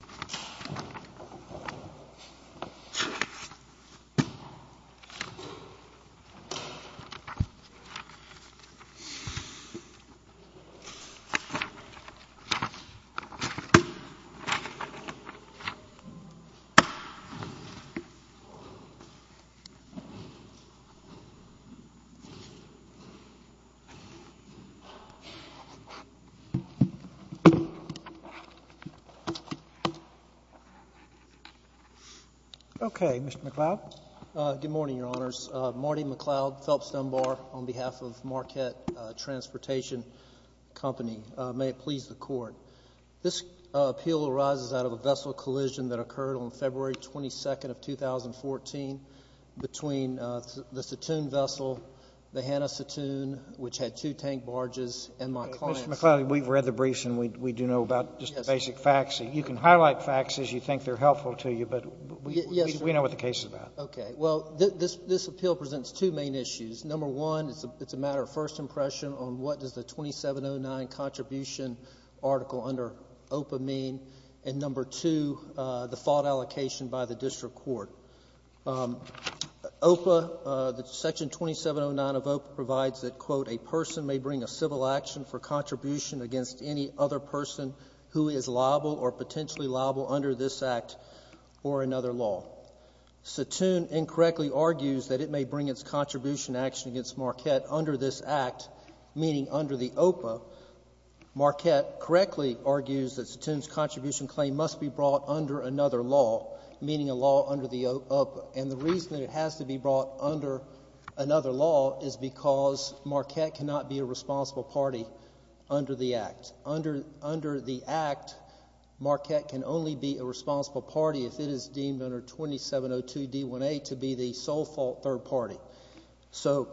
Settoon Towing, L.L.C. Okay. Mr. McLeod. Good morning, Your Honors. Marty McLeod, Phelps Dunbar, on behalf of Marquette Transportation Company. May it please the Court. This appeal arises out of a vessel collision that occurred on February 22nd of 2014 between the Settoon vessel, the Hannah Settoon, which had two tank barges, and my client's. Mr. McLeod, we've read the briefs, and we do know about just the basic facts. The sixth is that there was a collision. The seventh is that there was a collision. The eighth is that there was a collision. helpful to you, but we know what the case is about. Okay. Well, this appeal presents two main issues. Number one, it's a matter of first impression on what does the 2709 contribution article under OPA mean, and number two, the fault allocation by the District Court. OPA, the section 2709 of OPA provides that, quote, a person may bring a civil action for or another law. Settoon incorrectly argues that it may bring its contribution action against Marquette under this act, meaning under the OPA. Marquette correctly argues that Settoon's contribution claim must be brought under another law, meaning a law under the OPA, and the reason that it has to be brought under another law is because Marquette cannot be a responsible party under the act. Under the act, Marquette can only be a responsible party if it is deemed under 2702 D1A to be the sole fault third party. So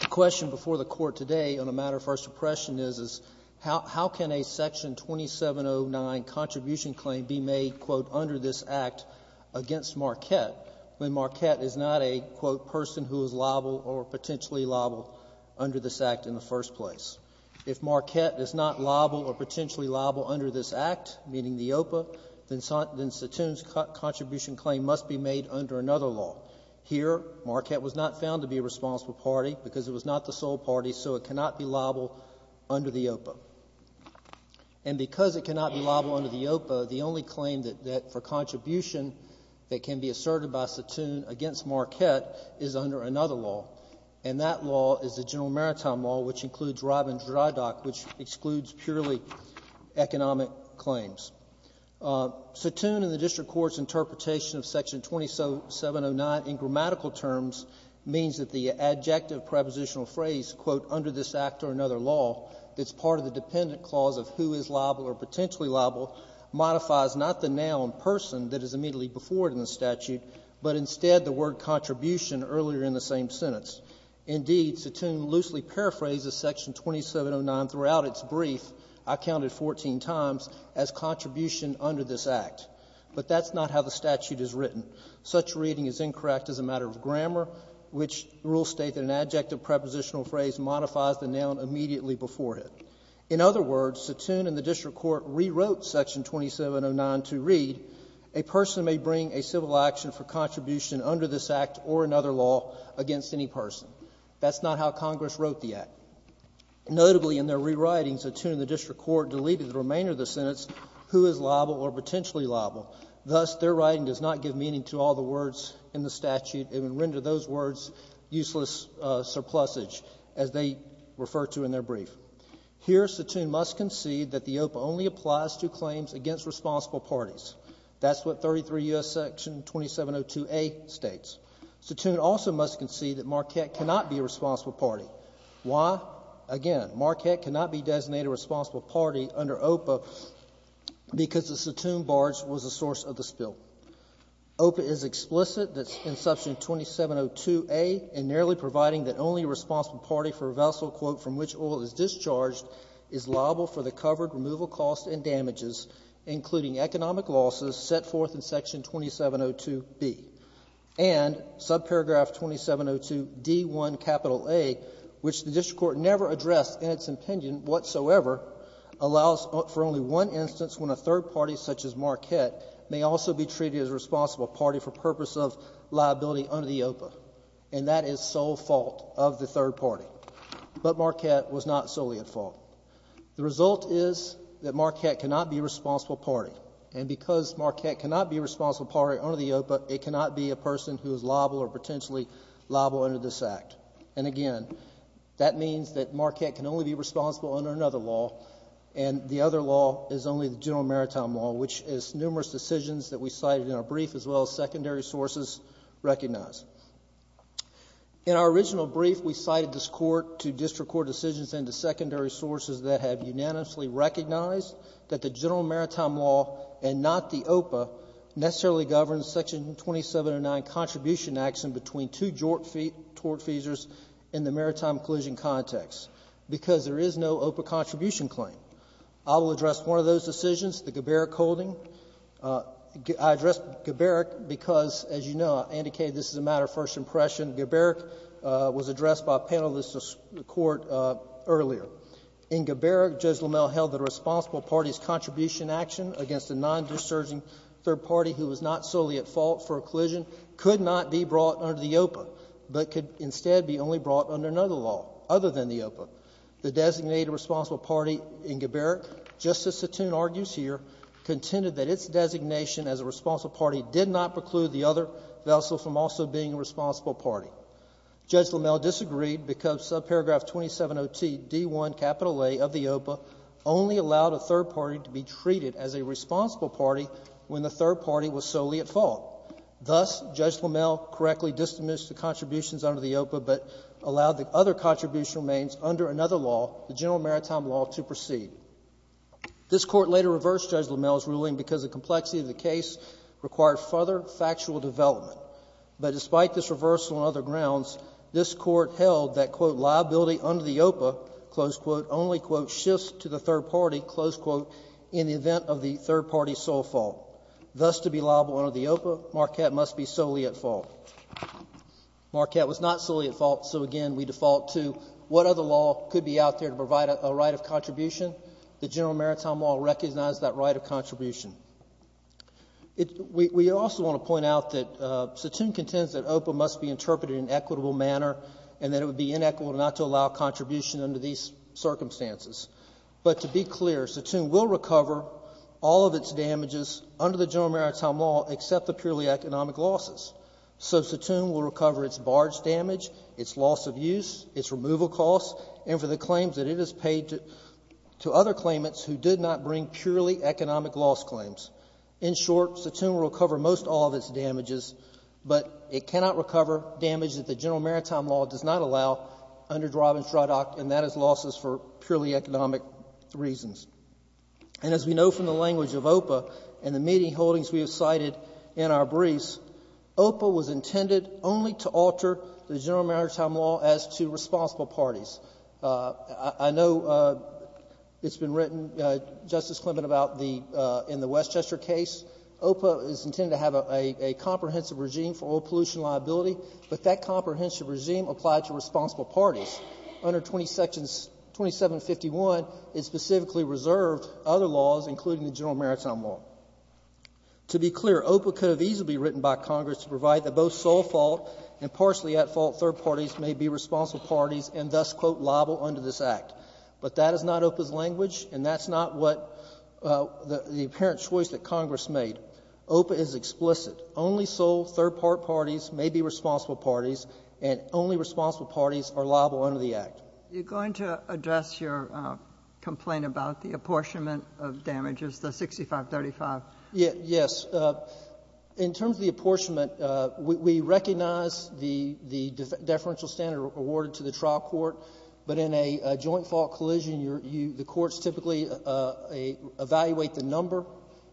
the question before the Court today on a matter of first impression is, how can a section 2709 contribution claim be made, quote, under this act against Marquette when Marquette is not a, quote, person who is liable or potentially liable under this act in the first place? If Marquette is not liable or potentially liable under this act, meaning the OPA, then Settoon's contribution claim must be made under another law. Here, Marquette was not found to be a responsible party because it was not the sole party, so it cannot be liable under the OPA. And because it cannot be liable under the OPA, the only claim that for contribution that can be asserted by Settoon against Marquette is under another law, and that law is the which excludes purely economic claims. Settoon in the district court's interpretation of section 2709 in grammatical terms means that the adjective prepositional phrase, quote, under this act or another law that's part of the dependent clause of who is liable or potentially liable modifies not the noun person that is immediately before it in the statute, but instead the word contribution earlier in the same sentence. Indeed, Settoon loosely paraphrases section 2709 throughout its brief, I counted 14 times, as contribution under this act. But that's not how the statute is written. Such reading is incorrect as a matter of grammar, which rules state that an adjective prepositional phrase modifies the noun immediately before it. In other words, Settoon in the district court rewrote section 2709 to read, a person may bring a civil action for contribution under this act or another law against any person. That's not how Congress wrote the act. Notably, in their rewriting, Settoon in the district court deleted the remainder of the sentence, who is liable or potentially liable. Thus, their writing does not give meaning to all the words in the statute. It would render those words useless surplusage, as they refer to in their brief. Here, Settoon must concede that the OPA only applies to claims against responsible parties. That's what 33 U.S. section 2702A states. Settoon also must concede that Marquette cannot be a responsible party. Why? Again, Marquette cannot be designated a responsible party under OPA because the Settoon barge was the source of the spill. OPA is explicit in section 2702A in narrowly providing that only a responsible party for a vessel, quote, from which oil is discharged is liable for the covered removal costs and expenses set forth in section 2702B. And subparagraph 2702D1A, which the district court never addressed in its opinion whatsoever, allows for only one instance when a third party such as Marquette may also be treated as a responsible party for purpose of liability under the OPA. And that is sole fault of the third party. But Marquette was not solely at fault. The result is that Marquette cannot be a responsible party. And because Marquette cannot be a responsible party under the OPA, it cannot be a person who is liable or potentially liable under this act. And again, that means that Marquette can only be responsible under another law. And the other law is only the general maritime law, which is numerous decisions that we cited in our brief as well as secondary sources recognize. In our original brief, we cited this court to district court decisions and to secondary sources that have unanimously recognized that the general maritime law and not the OPA necessarily govern section 2709 contribution action between two tort feasors in the maritime collusion context because there is no OPA contribution claim. I will address one of those decisions, the Geberich holding. I address Geberich because, as you know, I indicated this is a matter of first impression. Geberich was addressed by a panelist of the court earlier. In Geberich, Judge LaMalle held that a responsible party's contribution action against a non-disserging third party who was not solely at fault for a collusion could not be brought under the OPA but could instead be only brought under another law other than the OPA. The designated responsible party in Geberich, Justice Satoon argues here, contended that its designation as a responsible party did not preclude the other vessel from also being a responsible party. Judge LaMalle disagreed because subparagraph 2702 D1 capital A of the OPA only allowed a third party to be treated as a responsible party when the third party was solely at fault. Thus, Judge LaMalle correctly disadmissed the contributions under the OPA but allowed the other contribution remains under another law, the general maritime law, to proceed. This court later reversed Judge LaMalle's ruling because the complexity of the case required further factual development. But despite this reversal and other grounds, this court held that, quote, liability under the OPA, close quote, only, quote, shifts to the third party, close quote, in the event of the third party's sole fault. Thus, to be liable under the OPA, Marquette must be solely at fault. Marquette was not solely at fault, so again, we default to what other law could be out there to provide a right of contribution? The general maritime law recognized that right of contribution. We also want to point out that Satoum contends that OPA must be interpreted in an equitable manner and that it would be inequitable not to allow contribution under these circumstances. But to be clear, Satoum will recover all of its damages under the general maritime law except the purely economic losses. So Satoum will recover its barge damage, its loss of use, its removal costs, and for the other claimants who did not bring purely economic loss claims. In short, Satoum will recover most all of its damages, but it cannot recover damage that the general maritime law does not allow under Draub and Stradach, and that is losses for purely economic reasons. And as we know from the language of OPA and the meeting holdings we have cited in our briefs, OPA was intended only to alter the general maritime law as to responsible parties. I know it has been written, Justice Clement, in the Westchester case. OPA is intended to have a comprehensive regime for oil pollution liability, but that comprehensive regime applied to responsible parties. Under 2751, it specifically reserved other laws, including the general maritime law. To be clear, OPA could have easily been written by Congress to provide that both sole fault and partially at fault third parties may be responsible parties and thus, quote, liable under this Act. But that is not OPA's language, and that's not what the apparent choice that Congress made. OPA is explicit. Only sole third-part parties may be responsible parties, and only responsible parties are liable under the Act. You're going to address your complaint about the apportionment of damages, the 6535? Yes. In terms of the apportionment, we recognize the deferential standard awarded to the trial court, but in a joint fault collision, the courts typically evaluate the number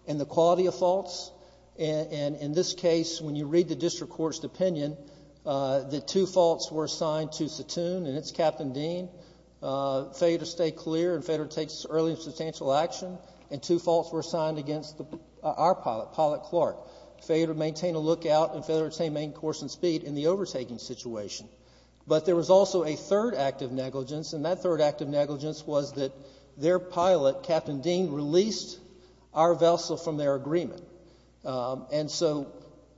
and the quality of faults. In this case, when you read the district court's opinion, the two faults were assigned to Satoon and its captain, Dean. Failure to stay clear and failure to take early and substantial action. And two faults were assigned against our pilot, Pilot Clark. Failure to maintain a lookout and failure to maintain course and speed in the overtaking situation. But there was also a third act of negligence, and that third act of negligence was that their pilot, Captain Dean, released our vessel from their agreement. And so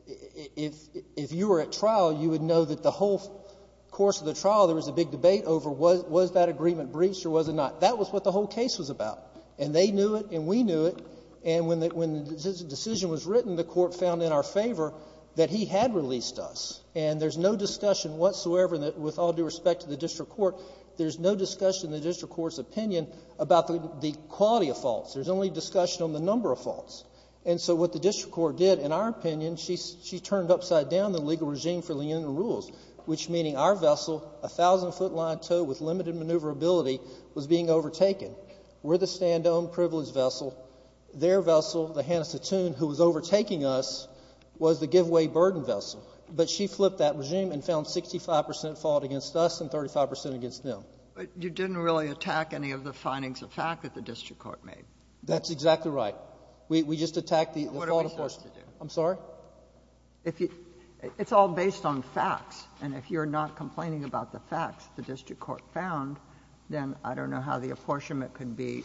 if you were at trial, you would know that the whole course of the trial, there was a big debate over was that agreement breached or was it not? That was what the whole case was about. And they knew it and we knew it, and when the decision was written, the court found in our favor that he had released us. And there's no discussion whatsoever with all due respect to the district court, there's no discussion in the district court's opinion about the quality of faults. There's only discussion on the number of faults. And so what the district court did, in our opinion, she turned upside down the legal regime for lenient rules, which meaning our vessel, a thousand foot line tow with limited maneuverability, was being overtaken. We're the stand-to-own privilege vessel. Their vessel, the Hannes de Thun, who was overtaking us, was the give-away burden vessel. But she flipped that regime and found 65 percent fault against us and 35 percent against them. But you didn't really attack any of the findings of fact that the district court That's exactly right. We just attacked the fault apportionment. What are we supposed to do? I'm sorry? It's all based on facts, and if you're not complaining about the facts the district court found, then I don't know how the apportionment can be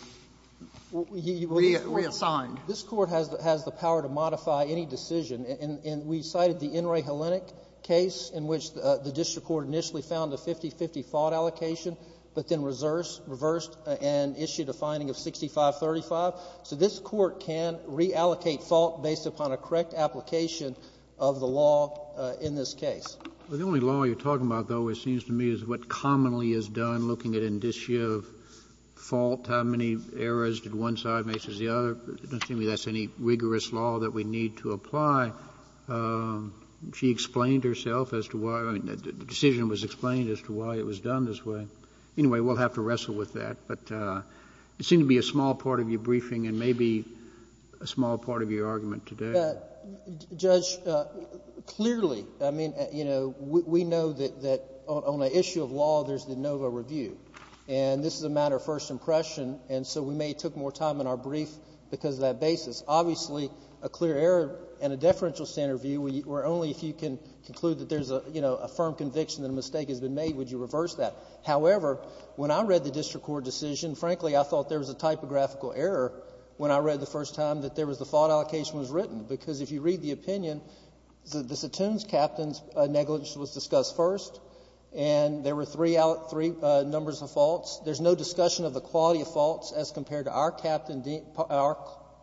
reassigned. This court has the power to modify any decision. And we cited the In re Hellenic case in which the district court initially found a 50-50 fault allocation, but then reversed and issued a finding of 65-35. So this court can reallocate fault based upon a correct application of the law in this case. Well, the only law you're talking about, though, it seems to me is what commonly is done, looking at indicia of fault, how many errors did one side makes as the other. It doesn't seem to me that's any rigorous law that we need to apply. She explained herself as to why. I mean, the decision was explained as to why it was done this way. Anyway, we'll have to wrestle with that. But it seemed to be a small part of your briefing and maybe a small part of your argument today. Judge, clearly, I mean, you know, we know that on the issue of law, there's the NOVA review. And this is a matter of first impression, and so we may have took more time in our brief because of that basis. Obviously, a clear error and a deferential standard view were only if you can conclude that there's a firm conviction that a mistake has been made, would you reverse that. However, when I read the district court decision, frankly, I thought there was a typographical error when I read the first time that there was the fault allocation was written. Because if you read the opinion, the Satoon's captain's negligence was discussed first, and there were three numbers of faults. There's no discussion of the quality of faults as compared to our captain, our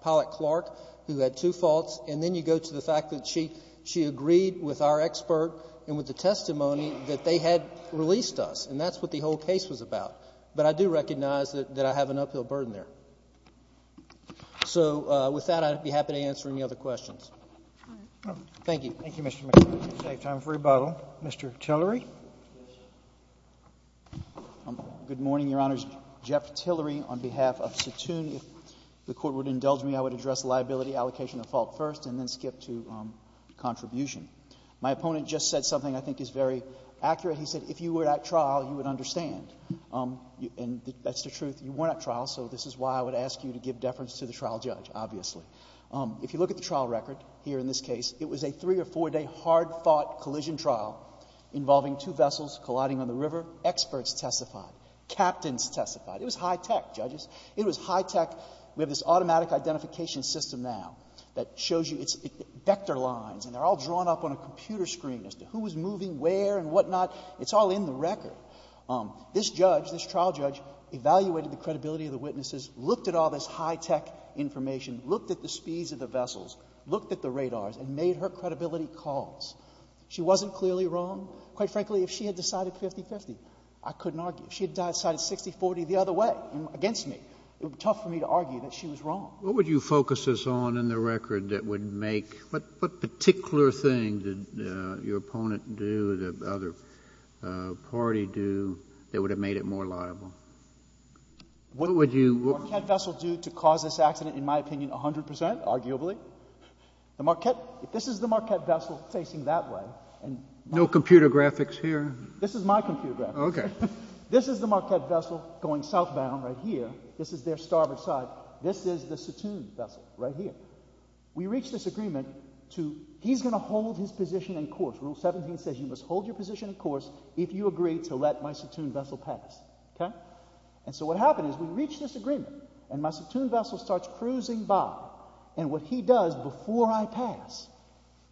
pilot Clark, who had two faults. And then you go to the fact that she agreed with our expert and with the testimony that they had released us. And that's what the whole case was about. But I do recognize that I have an uphill burden there. So with that, I'd be happy to answer any other questions. Thank you. Thank you, Mr. McKibbin. We have time for rebuttal. Mr. Tillery. Good morning, Your Honors. Jeff Tillery on behalf of Satoon. If the Court would indulge me, I would address liability allocation of fault first and then skip to contribution. My opponent just said something I think is very accurate. He said if you were at trial, you would understand. And that's the truth. You were at trial, so this is why I would ask you to give deference to the trial judge, obviously. If you look at the trial record here in this case, it was a three- or four-day hard-fought collision trial involving two vessels colliding on the river. Experts testified. Captains testified. It was high-tech, judges. It was high-tech. We have this automatic identification system now that shows you its vector lines, and they're all drawn up on a computer screen as to who was moving where and whatnot. It's all in the record. This judge, this trial judge, evaluated the credibility of the witnesses, looked at all this high-tech information, looked at the speeds of the vessels, looked at the radars, and made her credibility calls. She wasn't clearly wrong. Quite frankly, if she had decided 50-50, I couldn't argue. If she had decided 60-40 the other way against me, it would be tough for me to argue that she was wrong. What would you focus this on in the record that would make – what particular thing did your opponent do, the other party do, that would have made it more liable? What would the Marquette vessel do to cause this accident, in my opinion, 100%, arguably? If this is the Marquette vessel facing that way – No computer graphics here? This is my computer graphic. Okay. This is the Marquette vessel going southbound right here. This is their starboard side. This is the Satoon vessel right here. We reached this agreement to – he's going to hold his position in course. Rule 17 says you must hold your position in course if you agree to let my Satoon vessel pass. Okay? And so what happened is we reached this agreement, and my Satoon vessel starts cruising by. And what he does before I pass,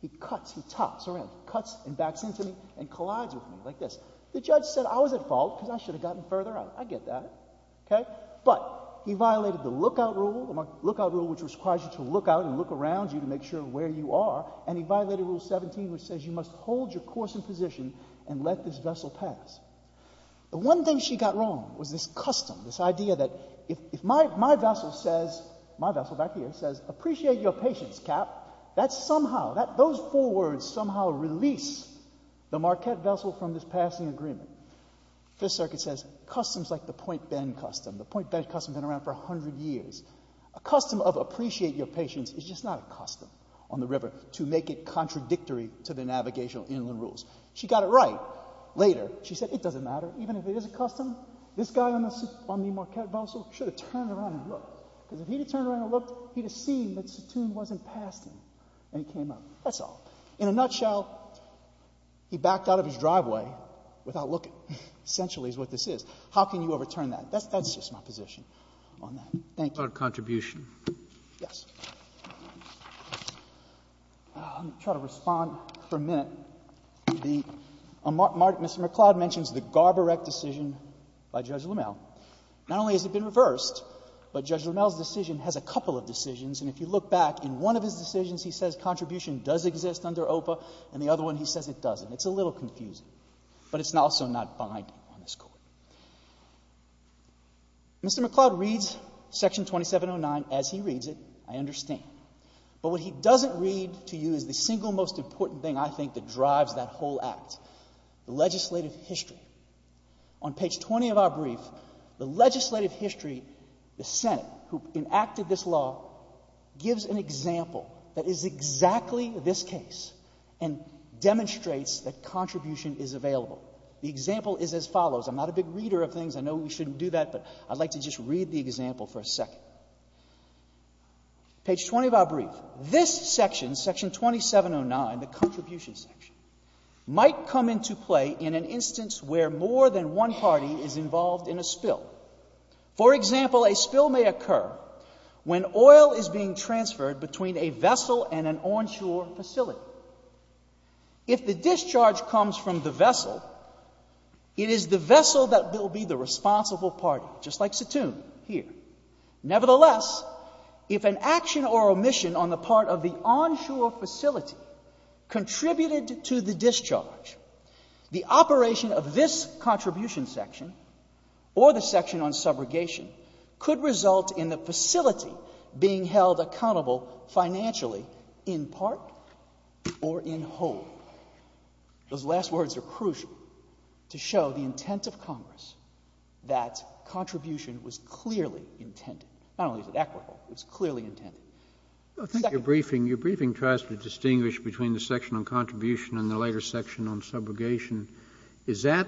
he cuts, he tops around, cuts and backs into me and collides with me like this. The judge said I was at fault because I should have gotten further out. I get that. Okay? But he violated the lookout rule, the lookout rule which requires you to look out and look around you to make sure where you are, and he violated Rule 17 which says you must hold your course and position and let this vessel pass. The one thing she got wrong was this custom, this idea that if my vessel says – my vessel back here says, appreciate your patience, Cap. That somehow – those four words somehow release the Marquette vessel from this passing agreement. Fifth Circuit says customs like the Point Bend custom. The Point Bend custom has been around for 100 years. A custom of appreciate your patience is just not a custom on the river to make it contradictory to the navigational inland rules. She got it right later. She said it doesn't matter. Even if it is a custom, this guy on the Marquette vessel should have turned around and looked. Because if he had turned around and looked, he would have seen that Satoon wasn't passing and he came up. That's all. In a nutshell, he backed out of his driveway without looking, essentially, is what this is. How can you overturn that? That's just my position on that. Thank you. What about contribution? Yes. I'm going to try to respond for a minute. Mr. McCloud mentions the Garber-Eck decision by Judge Lammel. Not only has it been reversed, but Judge Lammel's decision has a couple of decisions, and if you look back, in one of his decisions he says contribution does exist under OPA, and the other one he says it doesn't. It's a little confusing, but it's also not binding on this Court. Mr. McCloud reads Section 2709 as he reads it. I understand. But what he doesn't read to you is the single most important thing, I think, that drives that whole act, the legislative history. On page 20 of our brief, the legislative history, the Senate, who enacted this case and demonstrates that contribution is available, the example is as follows. I'm not a big reader of things. I know we shouldn't do that, but I'd like to just read the example for a second. Page 20 of our brief. This section, Section 2709, the contribution section, might come into play in an instance where more than one party is involved in a spill. For example, a spill may occur when oil is being transferred between a vessel and an onshore facility. If the discharge comes from the vessel, it is the vessel that will be the responsible party, just like Satoon here. Nevertheless, if an action or omission on the part of the onshore facility contributed to the discharge, the operation of this contribution section or the section on subrogation could result in the facility being held accountable financially in part or in whole. Those last words are crucial to show the intent of Congress that contribution was clearly intended. Not only is it equitable, it was clearly intended. Your briefing tries to distinguish between the section on contribution and the later section on subrogation. Is that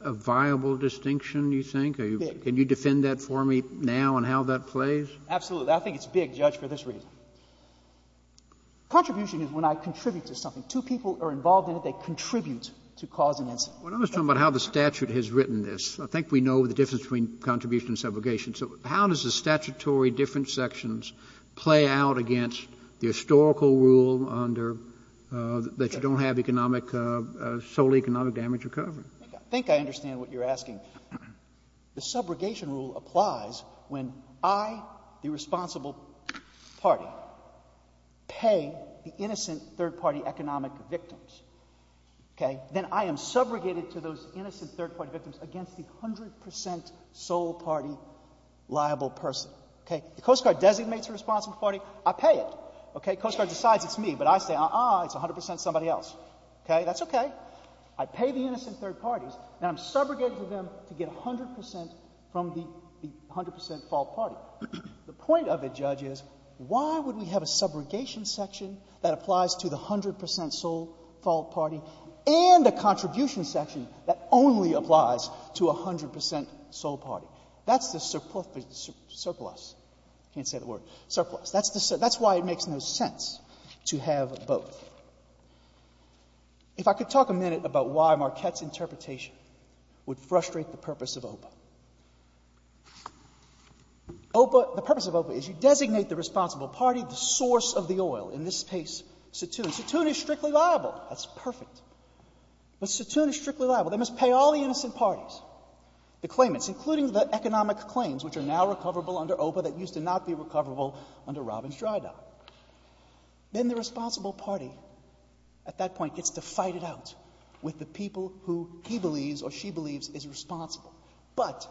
a viable distinction, you think? Can you defend that for me now on how that plays? Absolutely. I think it's big, Judge, for this reason. Contribution is when I contribute to something. Two people are involved in it. They contribute to cause an incident. Well, I'm just talking about how the statute has written this. I think we know the difference between contribution and subrogation. So how does the statutory different sections play out against the historical rule that you don't have solely economic damage or coverage? I think I understand what you're asking. The subrogation rule applies when I, the responsible party, pay the innocent third-party economic victims. Then I am subrogated to those innocent third-party victims against the 100% sole party liable person. The Coast Guard designates a responsible party. I pay it. Coast Guard decides it's me, but I say, uh-uh, it's 100% somebody else. That's okay. I pay the innocent third parties. And I'm subrogated to them to get 100% from the 100% fault party. The point of it, Judge, is why would we have a subrogation section that applies to the 100% sole fault party and a contribution section that only applies to a 100% sole party? That's the surplus. I can't say the word. Surplus. That's why it makes no sense to have both. If I could talk a minute about why Marquette's interpretation would frustrate the purpose of OPA. The purpose of OPA is you designate the responsible party the source of the oil, in this case, Satoon. Satoon is strictly liable. That's perfect. But Satoon is strictly liable. They must pay all the innocent parties, the claimants, including the economic claims, which are now recoverable under OPA that used to not be recoverable under Robbins-Drydahl. Then the responsible party at that point gets to fight it out with the people who he believes or she believes is responsible. But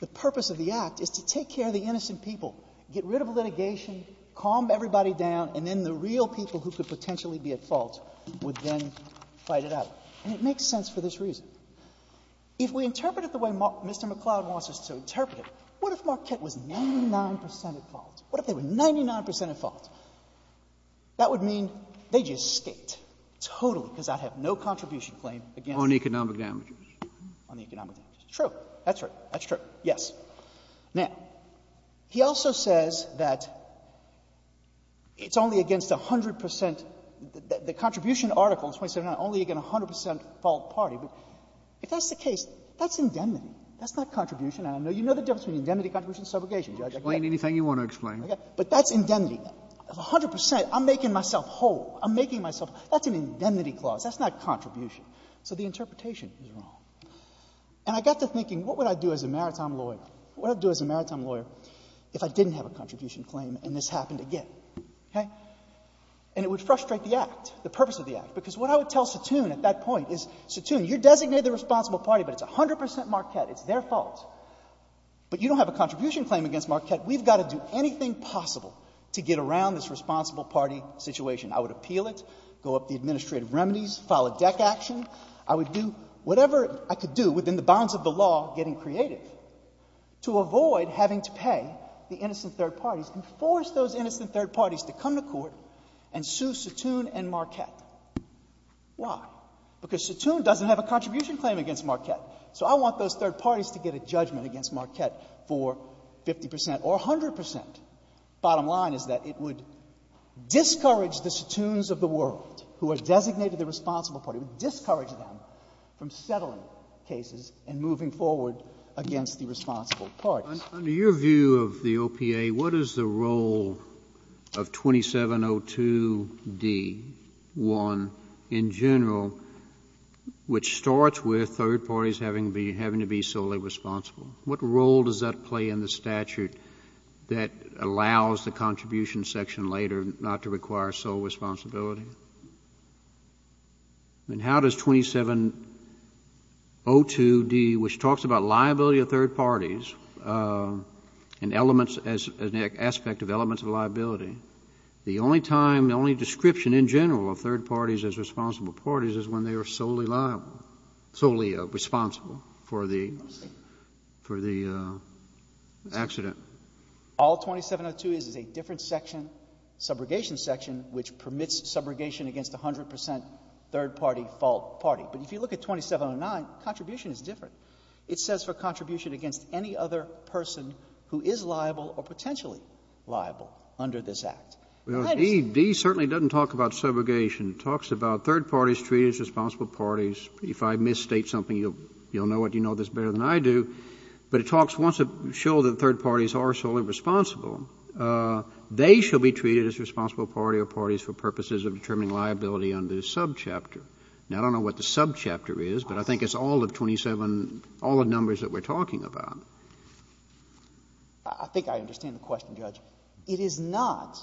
the purpose of the act is to take care of the innocent people, get rid of litigation, calm everybody down, and then the real people who could potentially be at fault would then fight it out. And it makes sense for this reason. If we interpret it the way Mr. McCloud wants us to interpret it, what if Marquette was 99% at fault? What if they were 99% at fault? That would mean they just escaped, totally, because I have no contribution claim against them. On economic damages. On economic damages. True. That's right. That's true. Yes. Now, he also says that it's only against 100% — the contribution article in 2079, only against 100% fault party. But if that's the case, that's indemnity. That's not contribution. And I know you know the difference between indemnity, contribution, and subrogation, Judge. Explain anything you want to explain. Okay. But that's indemnity. Of 100%, I'm making myself whole. I'm making myself — that's an indemnity clause. That's not contribution. So the interpretation is wrong. And I got to thinking, what would I do as a maritime lawyer? What would I do as a maritime lawyer if I didn't have a contribution claim and this happened again? Okay? And it would frustrate the act, the purpose of the act. Because what I would tell Satoon at that point is, Satoon, you're designated the responsible party, but it's 100% Marquette. It's their fault. But you don't have a contribution claim against Marquette. We've got to do anything possible to get around this responsible party situation. I would appeal it, go up the administrative remedies, file a deck action. I would do whatever I could do within the bounds of the law, getting creative, to avoid having to pay the innocent third parties and force those innocent third parties to come to court and sue Satoon and Marquette. Why? Because Satoon doesn't have a contribution claim against Marquette. So I want those third parties to get a judgment against Marquette for 50% or 100%. Bottom line is that it would discourage the Satoons of the world who are designated the responsible party. It would discourage them from settling cases and moving forward against the responsible parties. Under your view of the OPA, what is the role of 2702D-1 in general, which starts with third parties having to be solely responsible? What role does that play in the statute that allows the contribution section later not to require sole responsibility? Then how does 2702D, which talks about liability of third parties and elements as an aspect of elements of liability, the only time, the only description in general of third parties as responsible parties is when they are solely liable, solely responsible for the accident. All 2702 is is a different section, subrogation section, which permits subrogation against 100% third party fault party. But if you look at 2709, contribution is different. It says for contribution against any other person who is liable or potentially liable under this Act. Well, D certainly doesn't talk about subrogation. It talks about third parties treated as responsible parties. If I misstate something, you'll know it. You know this better than I do. But it talks, wants to show that third parties are solely responsible. They shall be treated as responsible party or parties for purposes of determining liability under the subchapter. Now, I don't know what the subchapter is, but I think it's all of 27, all the numbers that we're talking about. I think I understand the question, Judge. It is not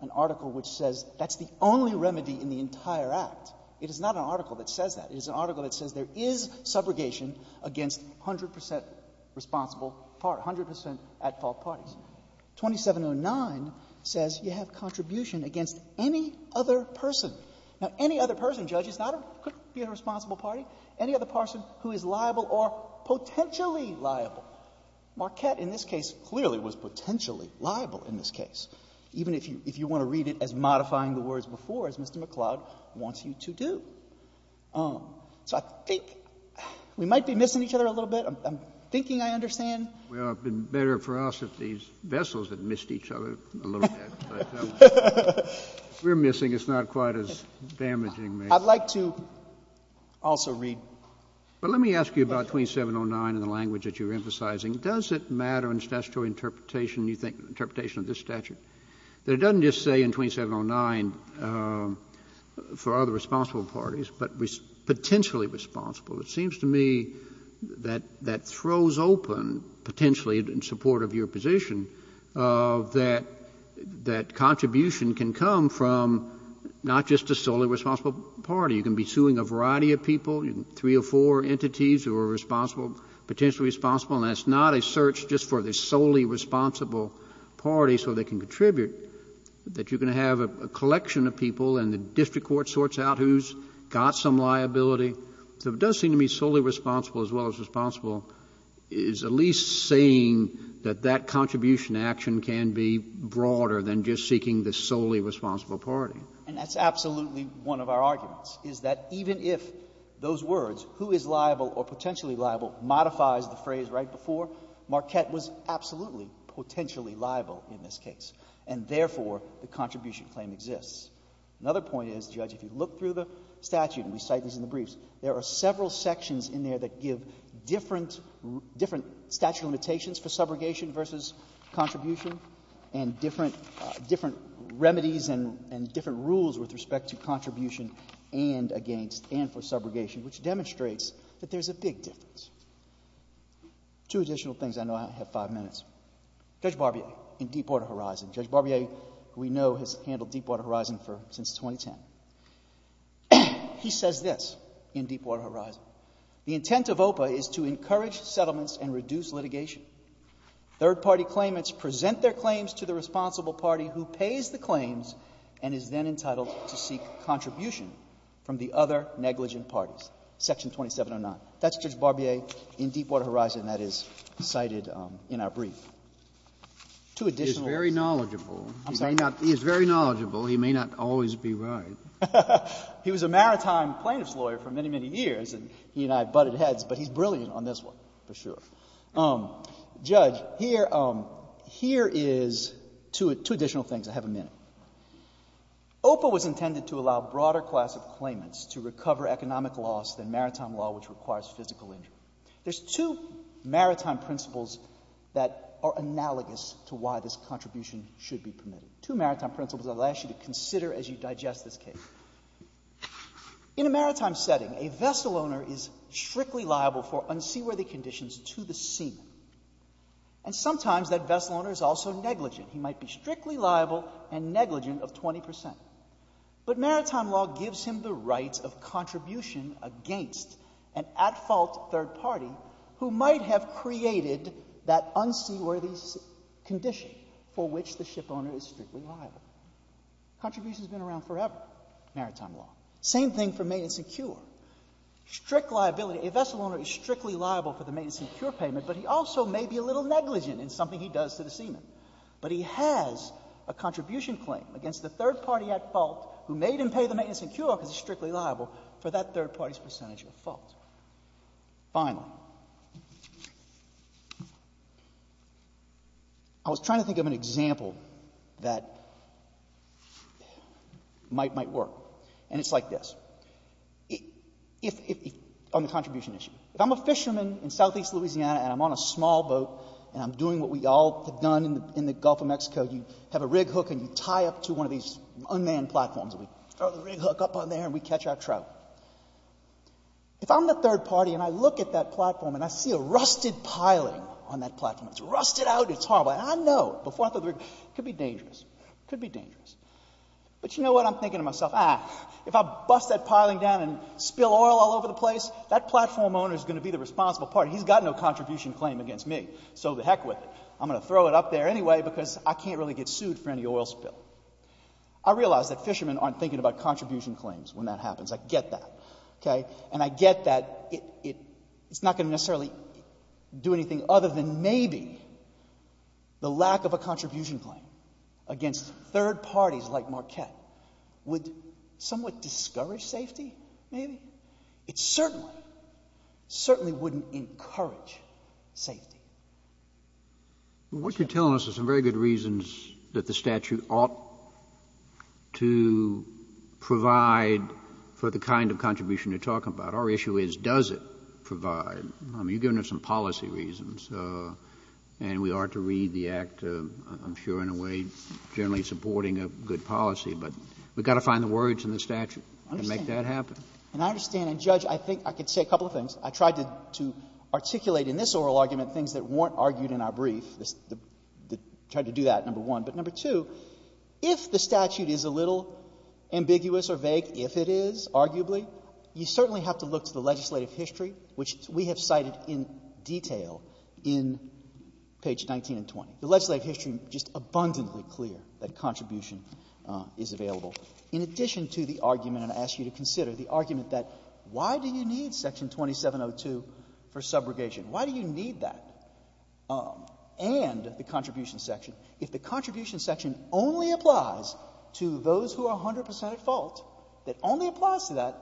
an article which says that's the only remedy in the entire Act. It is not an article that says that. It is an article that says there is subrogation against 100% responsible part, 100% at fault parties. 2709 says you have contribution against any other person. Now, any other person, Judge, could be a responsible party, any other person who is liable or potentially liable. Marquette in this case clearly was potentially liable in this case. Even if you want to read it as modifying the words before, as Mr. McCloud wants you to do. So I think we might be missing each other a little bit. I'm thinking I understand. Well, it would be better for us if these vessels had missed each other a little bit. We're missing. It's not quite as damaging. I'd like to also read. But let me ask you about 2709 in the language that you're emphasizing. Does it matter in statutory interpretation, you think, interpretation of this statute, that it doesn't just say in 2709 for other responsible parties, but potentially responsible? Well, it seems to me that that throws open, potentially in support of your position, that contribution can come from not just a solely responsible party. You can be suing a variety of people, three or four entities who are responsible, potentially responsible. And that's not a search just for the solely responsible party so they can contribute, that you're going to have a collection of people and the district court sorts out who's got some liability. So it does seem to me solely responsible as well as responsible is at least saying that that contribution action can be broader than just seeking the solely responsible party. And that's absolutely one of our arguments, is that even if those words, who is liable or potentially liable, modifies the phrase right before, Marquette was absolutely potentially liable in this case. And therefore, the contribution claim exists. Another point is, Judge, if you look through the statute, and we cite this in the briefs, there are several sections in there that give different statute limitations for subrogation versus contribution and different remedies and different rules with respect to contribution and against, and for subrogation, which demonstrates that there's a big difference. Two additional things. I know I have five minutes. Judge Barbier in Deepwater Horizon. Judge Barbier, who we know, has handled Deepwater Horizon since 2010. He says this in Deepwater Horizon. The intent of OPA is to encourage settlements and reduce litigation. Third-party claimants present their claims to the responsible party who pays the claims and is then entitled to seek contribution from the other negligent parties, section 2709. That's Judge Barbier in Deepwater Horizon that is cited in our brief. Two additional things. He's very knowledgeable. I'm sorry. He is very knowledgeable. He may not always be right. He was a maritime plaintiff's lawyer for many, many years, and he and I butted heads, but he's brilliant on this one for sure. Judge, here is two additional things. I have a minute. OPA was intended to allow broader class of claimants to recover economic loss than maritime law, which requires physical injury. There's two maritime principles that are analogous to why this contribution should be permitted. Two maritime principles I'll ask you to consider as you digest this case. In a maritime setting, a vessel owner is strictly liable for unseaworthy conditions to the seamen. And sometimes that vessel owner is also negligent. He might be strictly liable and negligent of 20%. But maritime law gives him the right of contribution against an at-fault third party who might have created that unseaworthy condition for which the vessel owner is strictly liable. Contribution has been around forever, maritime law. Same thing for maintenance and cure. Strict liability. A vessel owner is strictly liable for the maintenance and cure payment, but he also may be a little negligent in something he does to the seamen. But he has a contribution claim against the third party at fault who made him pay the maintenance and cure because he's strictly liable for that third party's percentage of fault. Finally, I was trying to think of an example that might work, and it's like this, on the contribution issue. If I'm a fisherman in southeast Louisiana and I'm on a small boat and I'm doing what we all have done in the Gulf of Mexico, you have a rig hook and you tie up to one of these unmanned platforms and we throw the rig hook up on there and we catch our trout. If I'm the third party and I look at that platform and I see a rusted piling on that platform, it's rusted out, it's horrible, and I know before I throw the rig, it could be dangerous. It could be dangerous. But you know what? I'm thinking to myself, ah, if I bust that piling down and spill oil all over the place, that platform owner is going to be the responsible party. He's got no contribution claim against me, so to heck with it. I'm going to throw it up there anyway because I can't really get sued for any oil spill. I realize that fishermen aren't thinking about contribution claims when that happens. I get that. Okay? And I get that it's not going to necessarily do anything other than maybe the lack of a contribution claim against third parties like Marquette would somewhat discourage safety, maybe. It certainly, certainly wouldn't encourage safety. What you're telling us are some very good reasons that the statute ought to provide for the kind of contribution you're talking about. Our issue is, does it provide? I mean, you're giving us some policy reasons, and we ought to read the Act, I'm sure, in a way generally supporting a good policy. But we've got to find the words in the statute to make that happen. And I understand. And, Judge, I think I could say a couple of things. I tried to articulate in this oral argument things that weren't argued in our brief. I tried to do that, number one. But, number two, if the statute is a little ambiguous or vague, if it is, arguably, you certainly have to look to the legislative history, which we have cited in detail in page 19 and 20. The legislative history is just abundantly clear that contribution is available. In addition to the argument, and I ask you to consider the argument that why do you need Section 2702 for subrogation? Why do you need that and the contribution section? If the contribution section only applies to those who are 100 percent at fault, that only applies to that,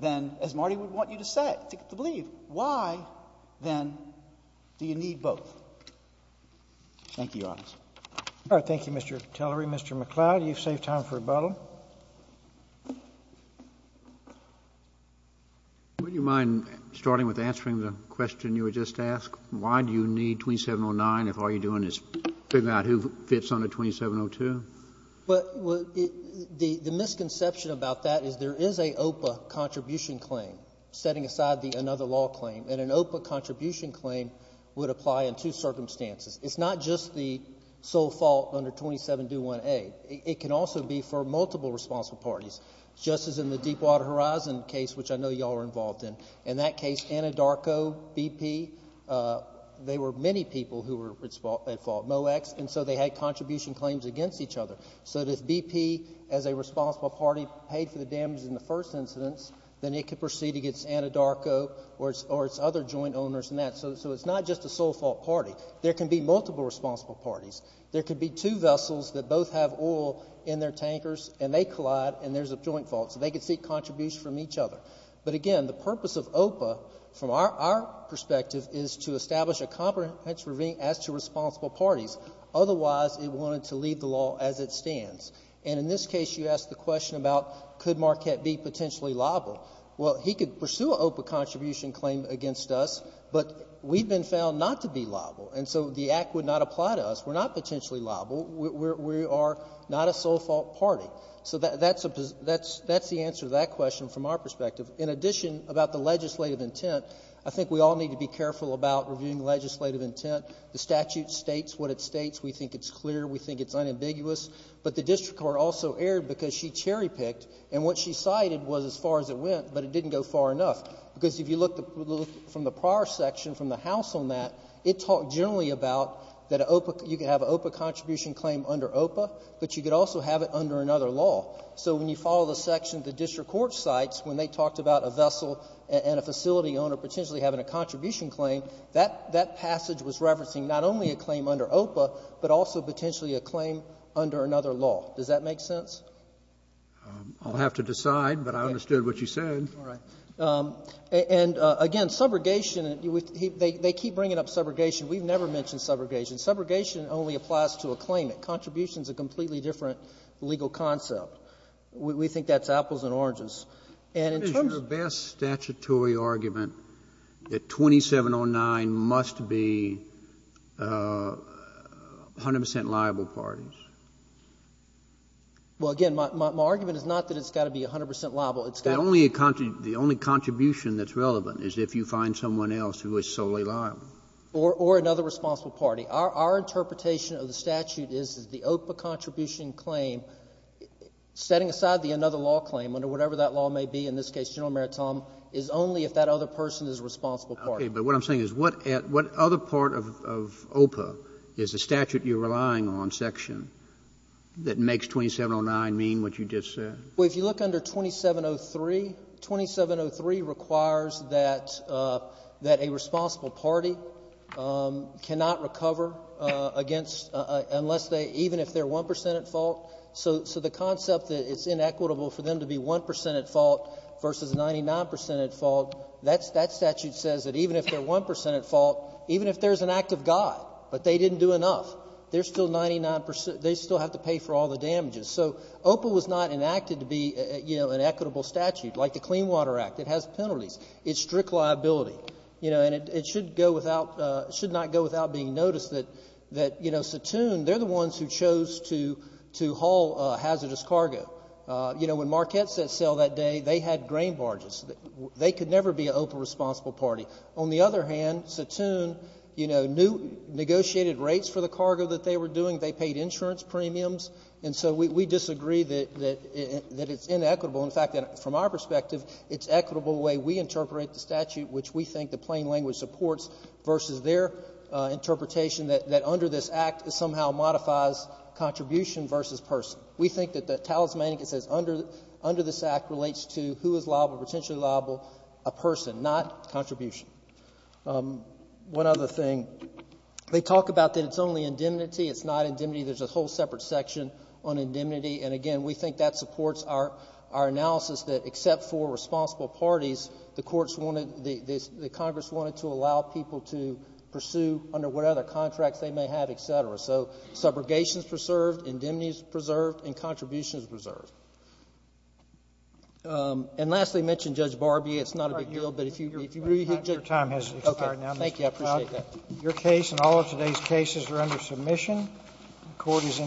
then, as Marty would want you to say, to believe, why then do you need both? Thank you, Your Honors. All right. Thank you, Mr. Tillery. Mr. McCloud, you've saved time for rebuttal. Would you mind starting with answering the question you were just asked? Why do you need 2709 if all you're doing is figuring out who fits under 2702? The misconception about that is there is a OPA contribution claim, setting aside another law claim, and an OPA contribution claim would apply in two circumstances. It's not just the sole fault under 2721A. It can also be for multiple responsible parties, just as in the Deepwater Horizon case, which I know you all are involved in. In that case, Anadarko, BP, they were many people who were at fault, MoEx, and so they had contribution claims against each other. So if BP, as a responsible party, paid for the damage in the first incidence, then it could proceed against Anadarko or its other joint owners in that. So it's not just a sole fault party. There can be multiple responsible parties. There could be two vessels that both have oil in their tankers, and they collide, and there's a joint fault. So they could seek contribution from each other. But, again, the purpose of OPA, from our perspective, is to establish a comprehensive review as to responsible parties. Otherwise, it wanted to leave the law as it stands. And in this case, you asked the question about could Marquette be potentially liable. Well, he could pursue an OPA contribution claim against us, but we've been found not to be liable, and so the act would not apply to us. We're not potentially liable. We are not a sole fault party. So that's the answer to that question from our perspective. In addition, about the legislative intent, I think we all need to be careful about reviewing legislative intent. The statute states what it states. We think it's clear. We think it's unambiguous. But the district court also erred because she cherry-picked, and what she cited was as far as it went, but it didn't go far enough. Because if you look from the prior section, from the House on that, it talked generally about that you could have an OPA contribution claim under OPA, but you could also have it under another law. So when you follow the section the district court cites, when they talked about a vessel and a facility owner potentially having a contribution claim, that passage was referencing not only a claim under OPA, but also potentially a claim under another law. Does that make sense? I'll have to decide, but I understood what you said. All right. And, again, subrogation, they keep bringing up subrogation. We've never mentioned subrogation. Subrogation only applies to a claimant. Contribution is a completely different legal concept. We think that's apples and oranges. And in terms of the best statutory argument that 2709 must be 100 percent liable parties. Well, again, my argument is not that it's got to be 100 percent liable. It's got to be. The only contribution that's relevant is if you find someone else who is solely liable. Or another responsible party. Our interpretation of the statute is that the OPA contribution claim, setting aside the another law claim under whatever that law may be, in this case General Maritime, is only if that other person is a responsible party. Okay. But what I'm saying is what other part of OPA is the statute you're relying on section that makes 2709 mean what you just said? Well, if you look under 2703, 2703 requires that a responsible party cannot recover against unless they, even if they're 1 percent at fault. So the concept that it's inequitable for them to be 1 percent at fault versus 99 percent at fault, that statute says that even if they're 1 percent at fault, even if there's an act of God but they didn't do enough, they still have to pay for all the damages. So OPA was not enacted to be an equitable statute like the Clean Water Act. It has penalties. It's strict liability. And it should not go without being noticed that Satoon, they're the ones who chose to haul hazardous cargo. When Marquette set sail that day, they had grain barges. They could never be an OPA responsible party. On the other hand, Satoon negotiated rates for the cargo that they were doing. They paid insurance premiums. And so we disagree that it's inequitable. In fact, from our perspective, it's equitable the way we interpret the statute, which we think the plain language supports, versus their interpretation that under this act it somehow modifies contribution versus person. We think that the talismanic that says under this act relates to who is liable, potentially liable, a person, not contribution. One other thing. They talk about that it's only indemnity. It's not indemnity. There's a whole separate section on indemnity. And, again, we think that supports our analysis that, except for responsible parties, the courts wanted, the Congress wanted to allow people to pursue under what other contracts they may have, et cetera. So subrogation is preserved, indemnity is preserved, and contribution is preserved. And lastly, I mentioned Judge Barbie. It's not a big deal, but if you really hit Judge Barbie. Your time has expired now. Thank you. I appreciate that. Your case and all of today's cases are under submission. Court is in recess.